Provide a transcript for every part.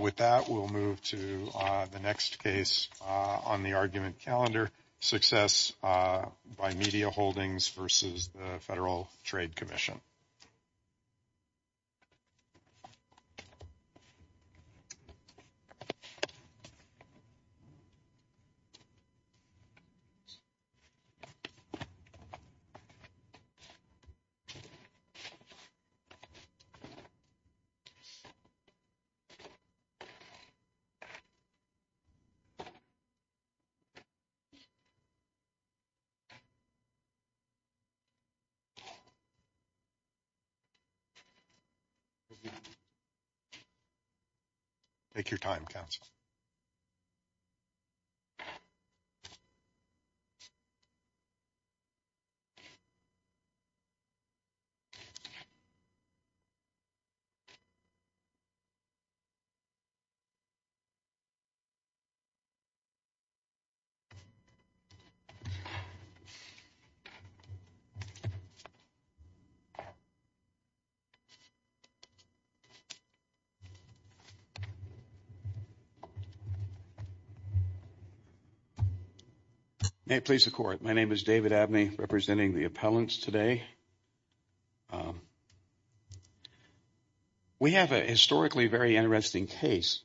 With that, we'll move to the next case on the argument calendar, success by media holdings versus the Federal Trade Commission. Silence. Take your time council. Silence. Silence. Silence. May it please the court. My name is David Abney representing the appellants today. We have a historically very interesting case.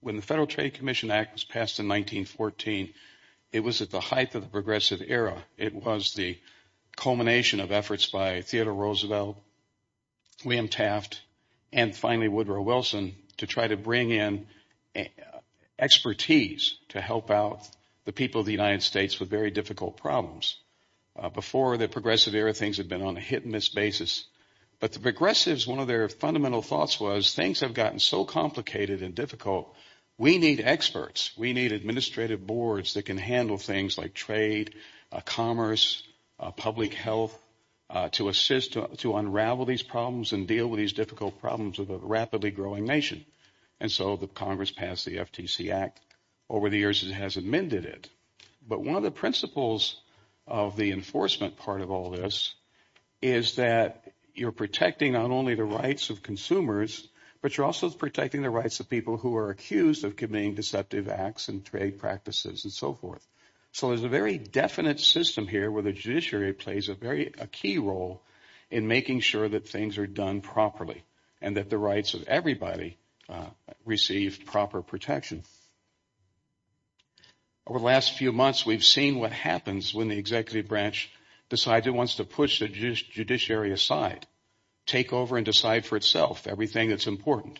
When the Federal Trade Commission Act was passed in 1914, it was at the height of the progressive era. It was the culmination of efforts by Theodore Roosevelt, William Taft, and finally Woodrow Wilson to try to bring in expertise to help out the people of the United States with very difficult problems. Before the progressive era, things had been on a hit and miss basis. But the progressives, one of their fundamental thoughts was things have gotten so complicated and difficult, we need experts. We need administrative boards that can handle things like trade, commerce, public health to assist to unravel these problems and deal with these difficult problems of a rapidly growing nation. And so the Congress passed the FTC Act. Over the years, it has amended it. But one of the principles of the enforcement part of all this is that you're protecting not only the rights of consumers, but you're also protecting the rights of people who are accused of committing deceptive acts and trade practices and so forth. So there's a very definite system here where the judiciary plays a key role in making sure that things are done properly and that the rights of everybody receive proper protection. Over the last few months, we've seen what happens when the executive branch decides it wants to push the judiciary aside, take over and decide for itself everything that's important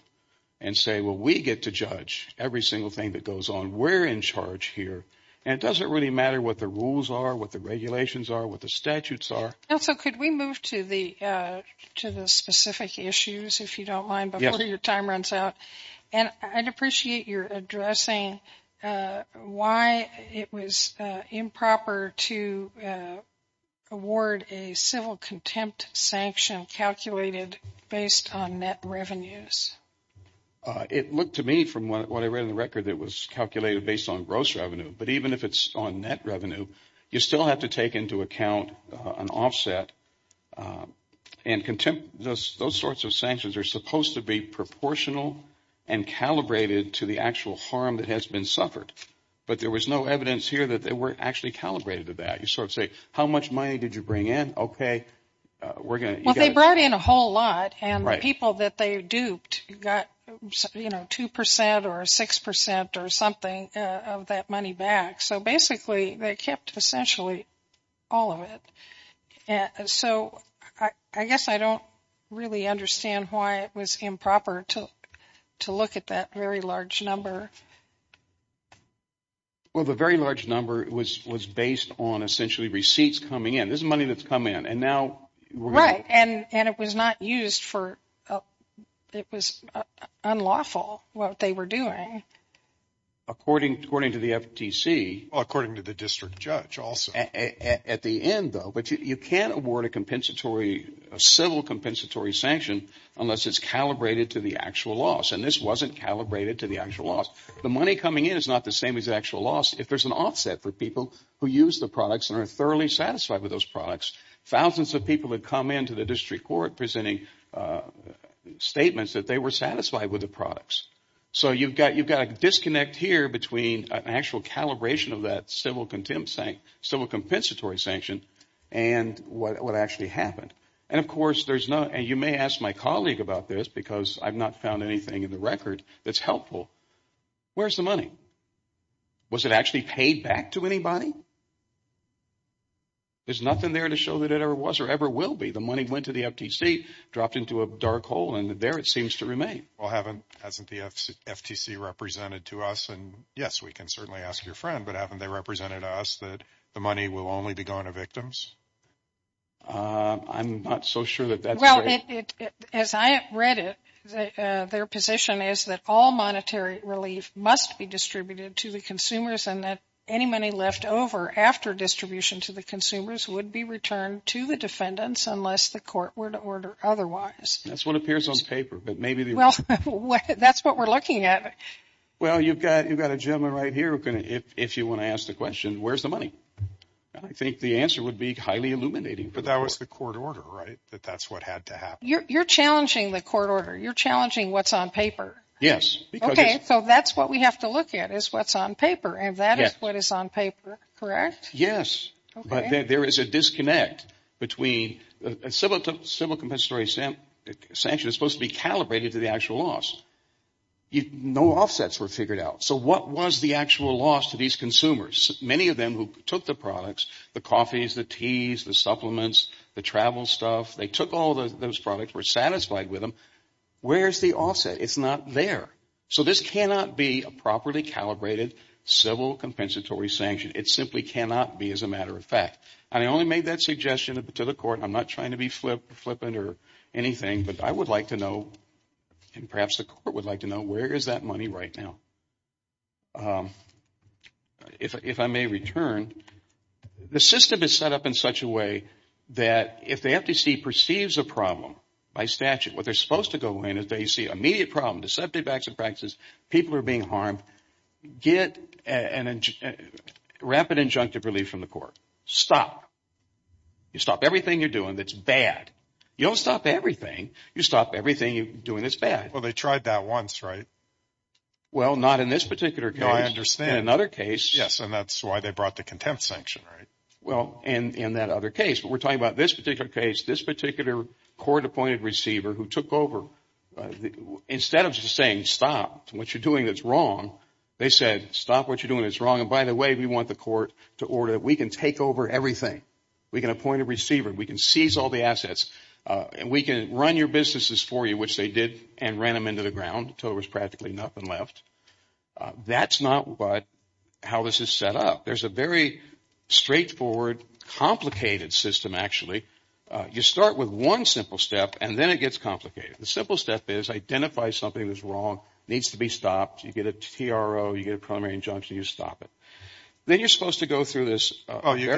and say, well, we get to judge every single thing that goes on. We're in charge here. And it doesn't really matter what the rules are, what the regulations are, what the statutes are. Also, could we move to the specific issues, if you don't mind, before your time runs out? And I'd appreciate your addressing why it was improper to award a civil contempt sanction calculated based on net revenues. It looked to me from what I read in the record that it was calculated based on gross revenue. But even if it's on net revenue, you still have to take into account an offset. And those sorts of sanctions are supposed to be proportional and calibrated to the actual harm that has been suffered. But there was no evidence here that they weren't actually calibrated to that. You sort of say, how much money did you bring in? Okay. Well, they brought in a whole lot. And the people that they duped got 2% or 6% or something of that money back. So basically, they kept essentially all of it. So I guess I don't really understand why it was improper to look at that very large number. Well, the very large number was based on essentially receipts coming in. This is money that's come in. And now – Right. And it was not used for – it was unlawful what they were doing. According to the FTC. According to the district judge also. At the end, though, but you can't award a compensatory – a civil compensatory sanction unless it's calibrated to the actual loss. And this wasn't calibrated to the actual loss. The money coming in is not the same as the actual loss. If there's an offset for people who use the products and are thoroughly satisfied with those products, thousands of people would come into the district court presenting statements that they were satisfied with the products. So you've got a disconnect here between an actual calibration of that civil compensatory sanction and what actually happened. And of course, there's no – and you may ask my colleague about this because I've not found anything in the record that's helpful. Where's the money? Was it actually paid back to anybody? There's nothing there to show that it ever was or ever will be. The money went to the FTC, dropped into a dark hole, and there it seems to remain. Well, haven't – hasn't the FTC represented to us – and yes, we can certainly ask your friend – but haven't they represented to us that the money will only be gone to victims? I'm not so sure that that's – Well, as I read it, their position is that all monetary relief must be distributed to the consumers and that any money left over after distribution to the consumers would be returned to the defendants unless the court were to order otherwise. That's what appears on paper, but maybe the – Well, that's what we're looking at. Well, you've got a gentleman right here who can – if you want to ask the question, where's the money? I think the answer would be highly illuminating. But that was the court order, right, that that's what had to happen? You're challenging the court order. You're challenging what's on paper. Yes. Okay, so that's what we have to look at is what's on paper, and that is what is on paper, correct? Yes. Okay. But there is a disconnect between – a civil compensatory sanction is supposed to be calibrated to the actual loss. No offsets were figured out, so what was the actual loss to these consumers? Many of them who took the products – the coffees, the teas, the supplements, the travel stuff – they took all those products, were satisfied with them. Where's the offset? It's not there. So this cannot be a properly calibrated civil compensatory sanction. It simply cannot be, as a matter of fact. And I only made that suggestion to the court. I'm not trying to be flippant or anything, but I would like to know, and perhaps the court would like to know, where is that money right now? If I may return, the system is set up in such a way that if the FTC perceives a problem by statute, what they're supposed to go in is they see immediate problem, deceptive acts and practices, people are being harmed, get rapid injunctive relief from the court. Stop. You stop everything you're doing that's bad. You don't stop everything. You stop everything you're doing that's bad. Well, they tried that once, right? Well, not in this particular case. No, I understand. In another case – Yes, and that's why they brought the contempt sanction, right? Well, in that other case. But we're talking about this particular case, this particular court-appointed receiver who took over. Instead of just saying stop what you're doing that's wrong, they said stop what you're doing that's wrong. And by the way, we want the court to order that we can take over everything. We can appoint a receiver. We can seize all the assets. And we can run your businesses for you, which they did and ran them into the ground until there was practically nothing left. That's not how this is set up. There's a very straightforward, complicated system, actually. You start with one simple step, and then it gets complicated. The simple step is identify something that's wrong. It needs to be stopped. You get a TRO. You get a preliminary injunction. You stop it. Then you're supposed to go through this – Oh, you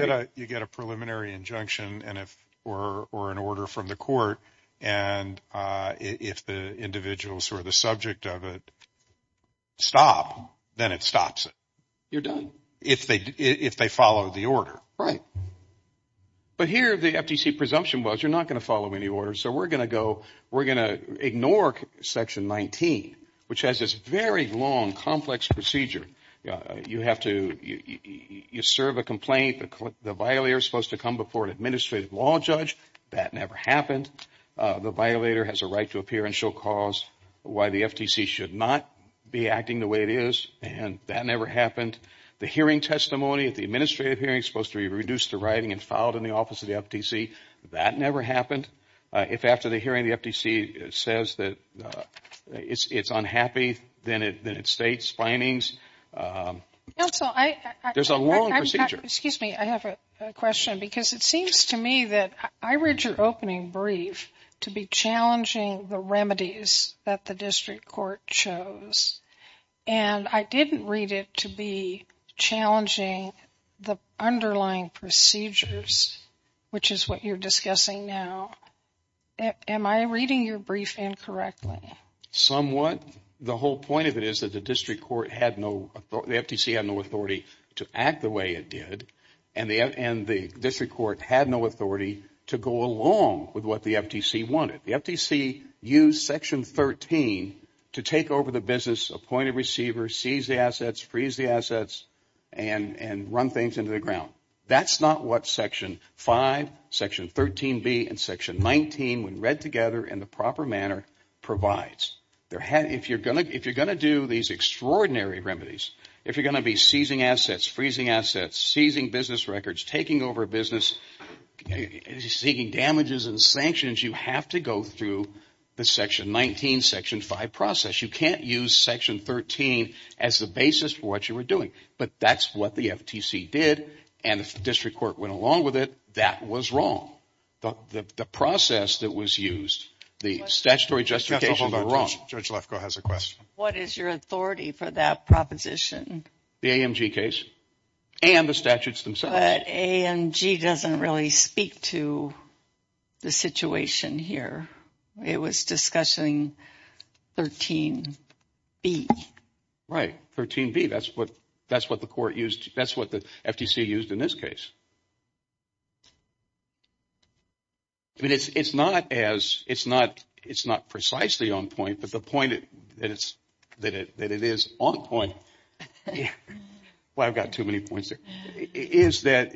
get a preliminary injunction or an order from the court. And if the individuals who are the subject of it stop, then it stops it. You're done. If they follow the order. Right. But here the FTC presumption was you're not going to follow any orders, so we're going to go – we're going to ignore Section 19, which has this very long, complex procedure. You have to – you serve a complaint. The violator is supposed to come before an administrative law judge. That never happened. The violator has a right to appear and show cause why the FTC should not be acting the way it is, and that never happened. The hearing testimony at the administrative hearing is supposed to be reduced to writing and filed in the office of the FTC. That never happened. If after the hearing the FTC says that it's unhappy, then it states findings. Counsel, I – There's a long procedure. Excuse me. I have a question because it seems to me that I read your opening brief to be challenging the remedies that the district court chose. And I didn't read it to be challenging the underlying procedures, which is what you're discussing now. Am I reading your brief incorrectly? Somewhat. The whole point of it is that the district court had no – the FTC had no authority to act the way it did, and the district court had no authority to go along with what the FTC wanted. The FTC used Section 13 to take over the business, appoint a receiver, seize the assets, freeze the assets, and run things into the ground. That's not what Section 5, Section 13B, and Section 19, when read together in the proper manner, provides. If you're going to do these extraordinary remedies, if you're going to be seizing assets, freezing assets, seizing business records, taking over business, seeking damages and sanctions, you have to go through the Section 19, Section 5 process. You can't use Section 13 as the basis for what you were doing. But that's what the FTC did, and the district court went along with it. That was wrong. The process that was used, the statutory justification was wrong. Judge Lefkoe has a question. What is your authority for that proposition? The AMG case? And the statutes themselves. But AMG doesn't really speak to the situation here. It was discussing 13B. Right, 13B. That's what the court used. That's what the FTC used in this case. I mean, it's not as, it's not precisely on point, but the point that it is on point, well, I've got too many points here, is that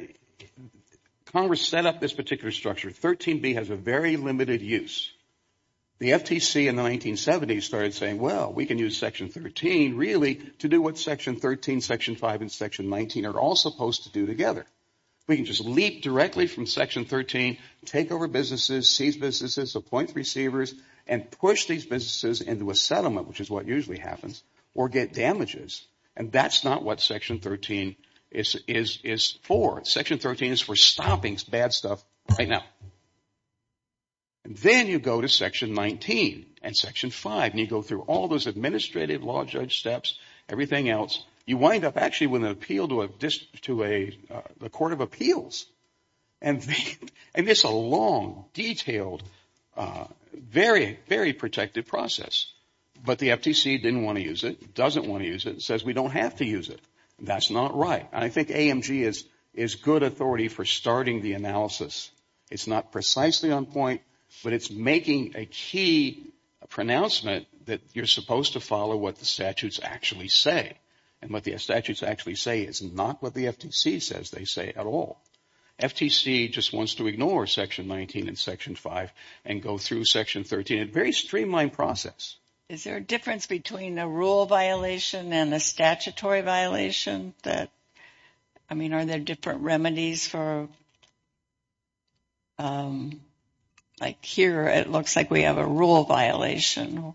Congress set up this particular structure. 13B has a very limited use. The FTC in the 1970s started saying, well, we can use Section 13 really to do what Section 13, Section 5, and Section 19 are all supposed to do together. We can just leap directly from Section 13, take over businesses, seize businesses, appoint receivers, and push these businesses into a settlement, which is what usually happens, or get damages. And that's not what Section 13 is for. Section 13 is for stopping bad stuff right now. Then you go to Section 19 and Section 5, and you go through all those administrative law judge steps, everything else. You wind up actually with an appeal to the Court of Appeals. And it's a long, detailed, very, very protected process. But the FTC didn't want to use it, doesn't want to use it, and says we don't have to use it. That's not right. And I think AMG is good authority for starting the analysis. It's not precisely on point, but it's making a key pronouncement that you're supposed to follow what the statutes actually say is not what the FTC says they say at all. FTC just wants to ignore Section 19 and Section 5 and go through Section 13, a very streamlined process. Is there a difference between a rule violation and a statutory violation? I mean, are there different remedies for, like here it looks like we have a rule violation?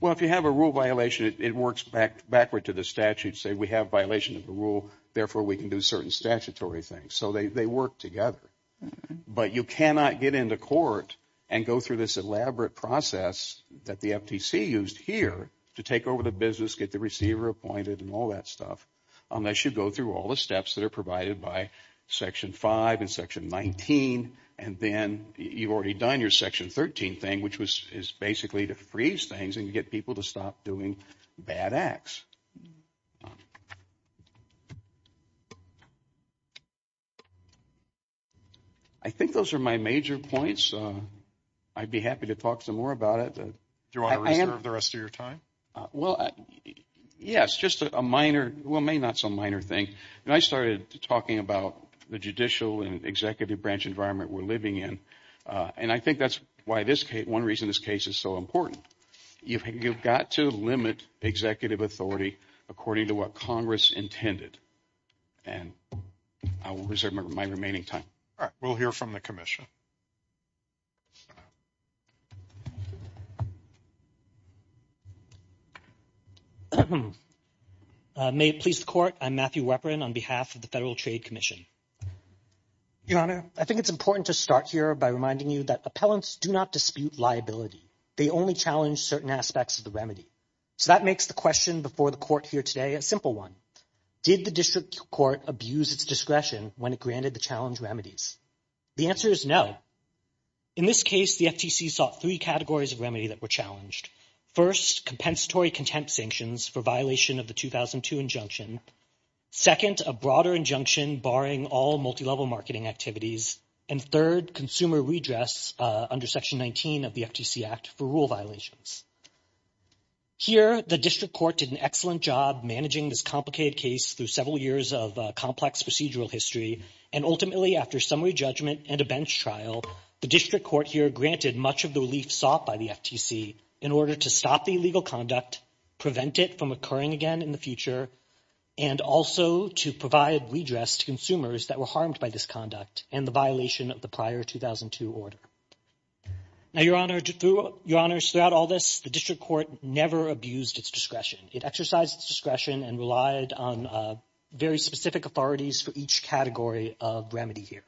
Well, if you have a rule violation, it works backward to the statute. Say we have violation of the rule. Therefore, we can do certain statutory things. So they work together. But you cannot get into court and go through this elaborate process that the FTC used here to take over the business, get the receiver appointed and all that stuff unless you go through all the steps that are provided by Section 5 and Section 19 and then you've already done your Section 13 thing, which is basically to freeze things and get people to stop doing bad acts. I think those are my major points. I'd be happy to talk some more about it. Do you want to reserve the rest of your time? Well, yes, just a minor, well, maybe not so minor thing. When I started talking about the judicial and executive branch environment we're living in, and I think that's one reason this case is so important. You've got to limit executive authority according to what Congress intended. And I will reserve my remaining time. We'll hear from the Commission. May it please the Court. I'm Matthew Weprin on behalf of the Federal Trade Commission. Your Honor, I think it's important to start here by reminding you that appellants do not dispute liability. They only challenge certain aspects of the remedy. So that makes the question before the Court here today a simple one. Did the district court abuse its discretion when it granted the challenge remedies? The answer is no. In this case, the FTC sought three categories of remedy that were challenged. First, compensatory contempt sanctions for violation of the 2002 injunction. Second, a broader injunction barring all multilevel marketing activities. And third, consumer redress under Section 19 of the FTC Act for rule violations. Here, the district court did an excellent job managing this complicated case through several years of complex procedural history. And ultimately, after summary judgment and a bench trial, the district court here granted much of the relief sought by the FTC in order to stop the illegal conduct, prevent it from occurring again in the future, and also to provide redress to consumers that were harmed by this conduct and the violation of the prior 2002 order. Now, Your Honor, throughout all this, the district court never abused its discretion. It exercised its discretion and relied on very specific authorities for each category of remedy here.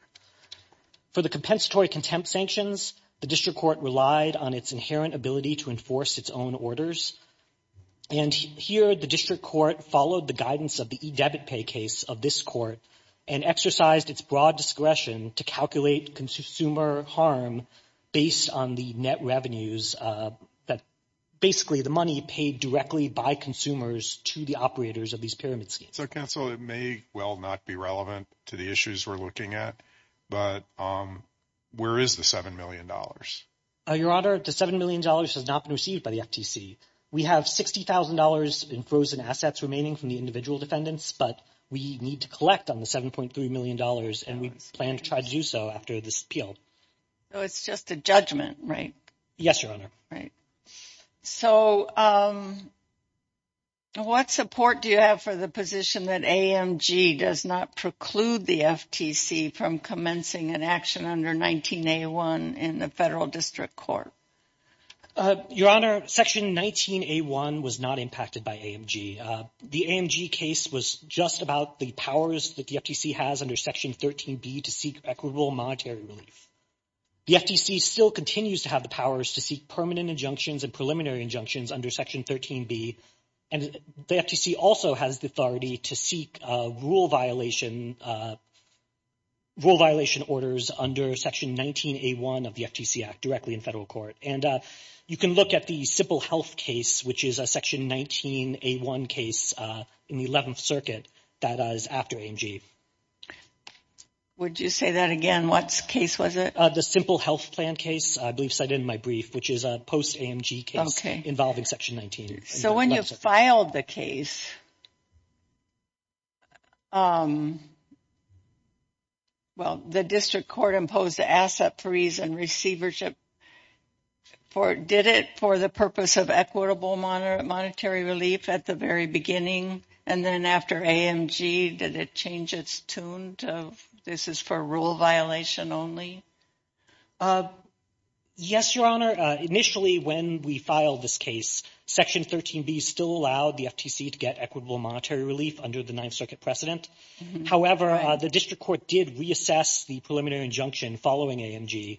For the compensatory contempt sanctions, the district court relied on its inherent ability to enforce its own orders. And here, the district court followed the guidance of the e-debit pay case of this court and exercised its broad discretion to calculate consumer harm based on the net revenues, basically the money paid directly by consumers to the operators of these pyramid schemes. So, counsel, it may well not be relevant to the issues we're looking at, but where is the $7 million? Your Honor, the $7 million has not been received by the FTC. We have $60,000 in frozen assets remaining from the individual defendants, but we need to collect on the $7.3 million, and we plan to try to do so after this appeal. So it's just a judgment, right? Yes, Your Honor. Right. So what support do you have for the position that AMG does not preclude the FTC from commencing an action under 19A1 in the federal district court? Your Honor, Section 19A1 was not impacted by AMG. The AMG case was just about the powers that the FTC has under Section 13B to seek equitable monetary relief. The FTC still continues to have the powers to seek permanent injunctions and preliminary injunctions under Section 13B, and the FTC also has the authority to seek rule violation orders under Section 19A1 of the FTC Act directly in federal court. And you can look at the Simple Health case, which is a Section 19A1 case in the 11th Circuit that is after AMG. Would you say that again? What case was it? The Simple Health plan case, I believe cited in my brief, which is a post-AMG case involving Section 19. So when you filed the case, well, the district court imposed the asset freeze and receivership. Did it for the purpose of equitable monetary relief at the very beginning, and then after AMG, did it change its tune to this is for rule violation only? Yes, Your Honor. Initially, when we filed this case, Section 13B still allowed the FTC to get equitable monetary relief under the 9th Circuit precedent. However, the district court did reassess the preliminary injunction following AMG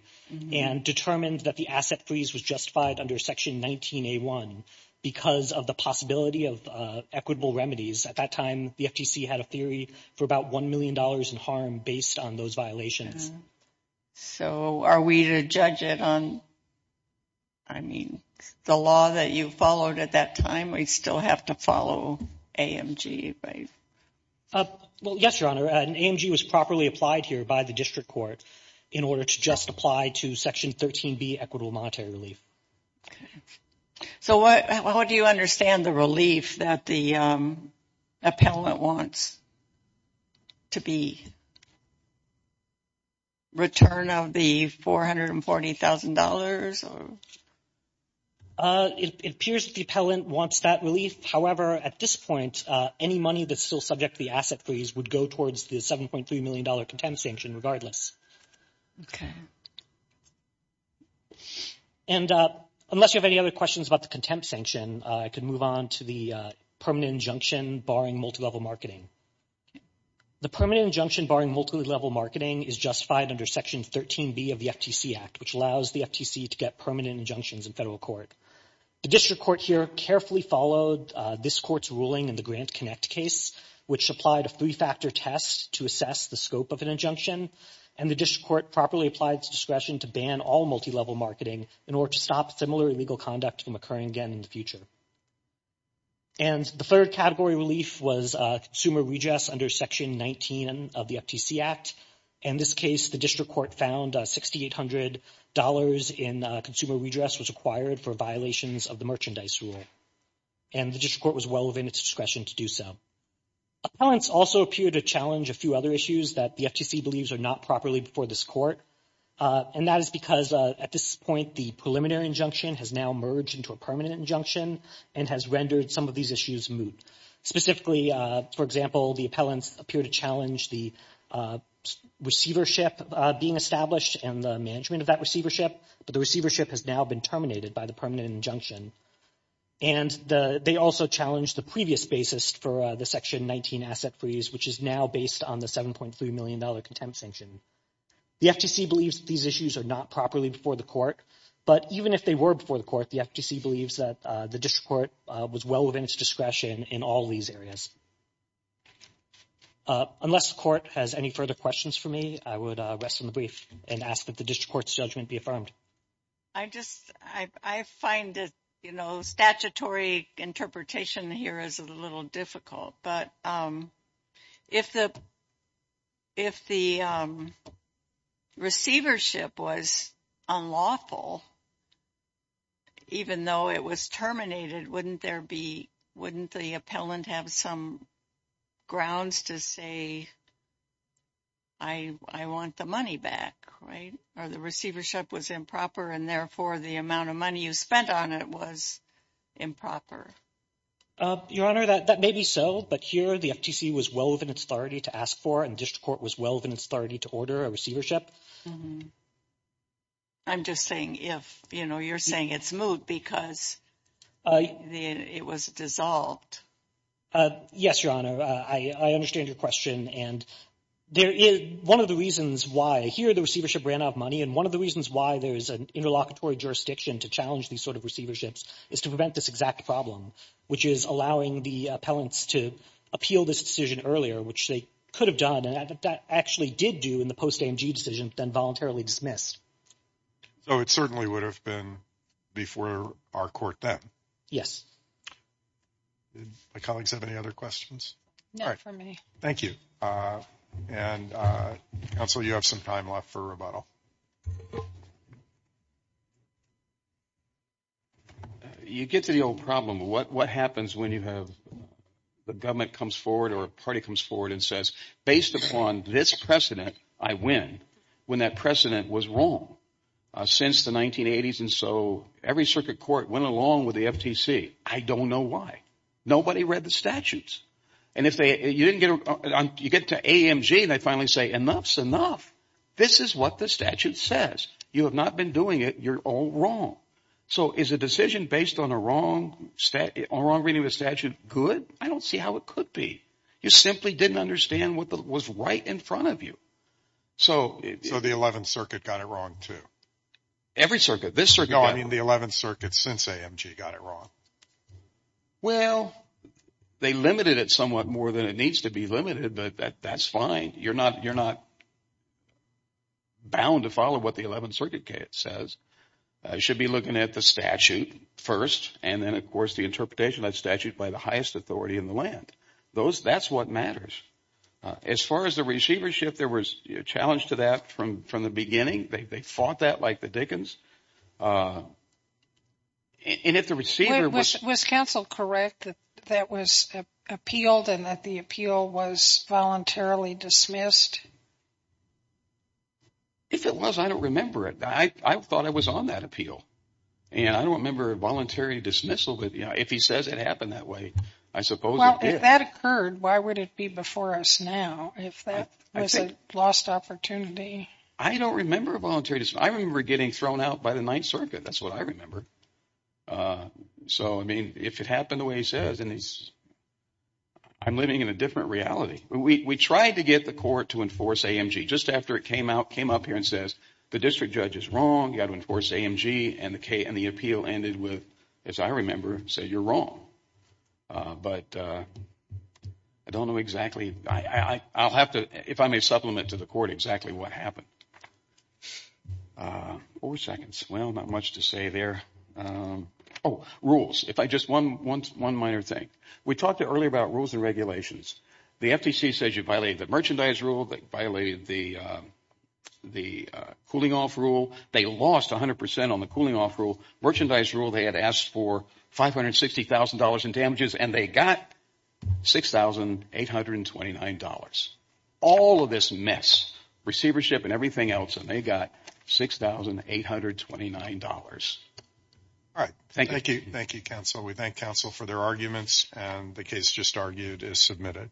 and determined that the asset freeze was justified under Section 19A1 because of the possibility of equitable remedies. At that time, the FTC had a theory for about $1 million in harm based on those violations. So are we to judge it on, I mean, the law that you followed at that time, we still have to follow AMG, right? Well, yes, Your Honor, and AMG was properly applied here by the district court in order to just apply to Section 13B equitable monetary relief. So how do you understand the relief that the appellant wants to be return of the $440,000? It appears the appellant wants that relief. However, at this point, any money that's still subject to the asset freeze would go towards the $7.3 million contempt sanction regardless. Okay. And unless you have any other questions about the contempt sanction, I can move on to the permanent injunction barring multilevel marketing. The permanent injunction barring multilevel marketing is justified under Section 13B of the FTC Act, which allows the FTC to get permanent injunctions in federal court. The district court here carefully followed this court's ruling in the GrantConnect case, which applied a three-factor test to assess the scope of an injunction, and the district court properly applied its discretion to ban all multilevel marketing in order to stop similar illegal conduct from occurring again in the future. And the third category relief was consumer redress under Section 19 of the FTC Act. In this case, the district court found $6,800 in consumer redress was required for violations of the merchandise rule, and the district court was well within its discretion to do so. Appellants also appear to challenge a few other issues that the FTC believes are not properly before this court, and that is because at this point the preliminary injunction has now merged into a permanent injunction and has rendered some of these issues moot. Specifically, for example, the appellants appear to challenge the receivership being established and the management of that receivership, but the receivership has now been terminated by the permanent injunction. And they also challenged the previous basis for the Section 19 asset freeze, which is now based on the $7.3 million contempt sanction. The FTC believes these issues are not properly before the court, but even if they were before the court, the FTC believes that the district court was well within its discretion in all these areas. Unless the court has any further questions for me, I would rest on the brief and ask that the district court's judgment be affirmed. I just, I find it, you know, statutory interpretation here is a little difficult. But if the receivership was unlawful, even though it was terminated, wouldn't there be, wouldn't the appellant have some grounds to say, I want the money back, right? Or the receivership was improper, and therefore the amount of money you spent on it was improper. Your Honor, that may be so, but here the FTC was well within its authority to ask for and the district court was well within its authority to order a receivership. I'm just saying if, you know, you're saying it's moot because it was dissolved. Yes, Your Honor, I understand your question. And there is one of the reasons why here the receivership ran out of money and one of the reasons why there is an interlocutory jurisdiction to challenge these sort of receiverships is to prevent this exact problem, which is allowing the appellants to appeal this decision earlier, which they could have done and actually did do in the post-AMG decision, but then voluntarily dismissed. So it certainly would have been before our court then? Yes. My colleagues have any other questions? Not for me. Thank you. And, Counsel, you have some time left for rebuttal. You get to the old problem. What happens when you have the government comes forward or a party comes forward and says, based upon this precedent, I win, when that precedent was wrong since the 1980s and so every circuit court went along with the FTC. I don't know why. Nobody read the statutes. And you get to AMG and they finally say, enough is enough. This is what the statute says. You have not been doing it. You're all wrong. So is a decision based on a wrong reading of the statute good? I don't see how it could be. You simply didn't understand what was right in front of you. So the 11th Circuit got it wrong too? Every circuit. No, I mean the 11th Circuit since AMG got it wrong. Well, they limited it somewhat more than it needs to be limited, but that's fine. You're not bound to follow what the 11th Circuit says. You should be looking at the statute first and then, of course, the interpretation of that statute by the highest authority in the land. That's what matters. As far as the receivership, there was a challenge to that from the beginning. They fought that like the Dickens. Was counsel correct that that was appealed and that the appeal was voluntarily dismissed? If it was, I don't remember it. I thought I was on that appeal. And I don't remember a voluntary dismissal. But if he says it happened that way, I suppose it did. Well, if that occurred, why would it be before us now if that was a lost opportunity? I don't remember a voluntary dismissal. I remember getting thrown out by the 9th Circuit. That's what I remember. So, I mean, if it happened the way he says, I'm living in a different reality. We tried to get the court to enforce AMG. Just after it came up here and says the district judge is wrong, you've got to enforce AMG, and the appeal ended with, as I remember, say you're wrong. But I don't know exactly. I'll have to, if I may supplement to the court exactly what happened. Four seconds. Well, not much to say there. Oh, rules. If I just, one minor thing. We talked earlier about rules and regulations. The FTC says you violate the merchandise rule. They violated the cooling off rule. They lost 100% on the cooling off rule. Merchandise rule, they had asked for $560,000 in damages, and they got $6,829. All of this mess, receivership and everything else, and they got $6,829. All right. Thank you. Thank you, counsel. We thank counsel for their arguments, and the case just argued is submitted.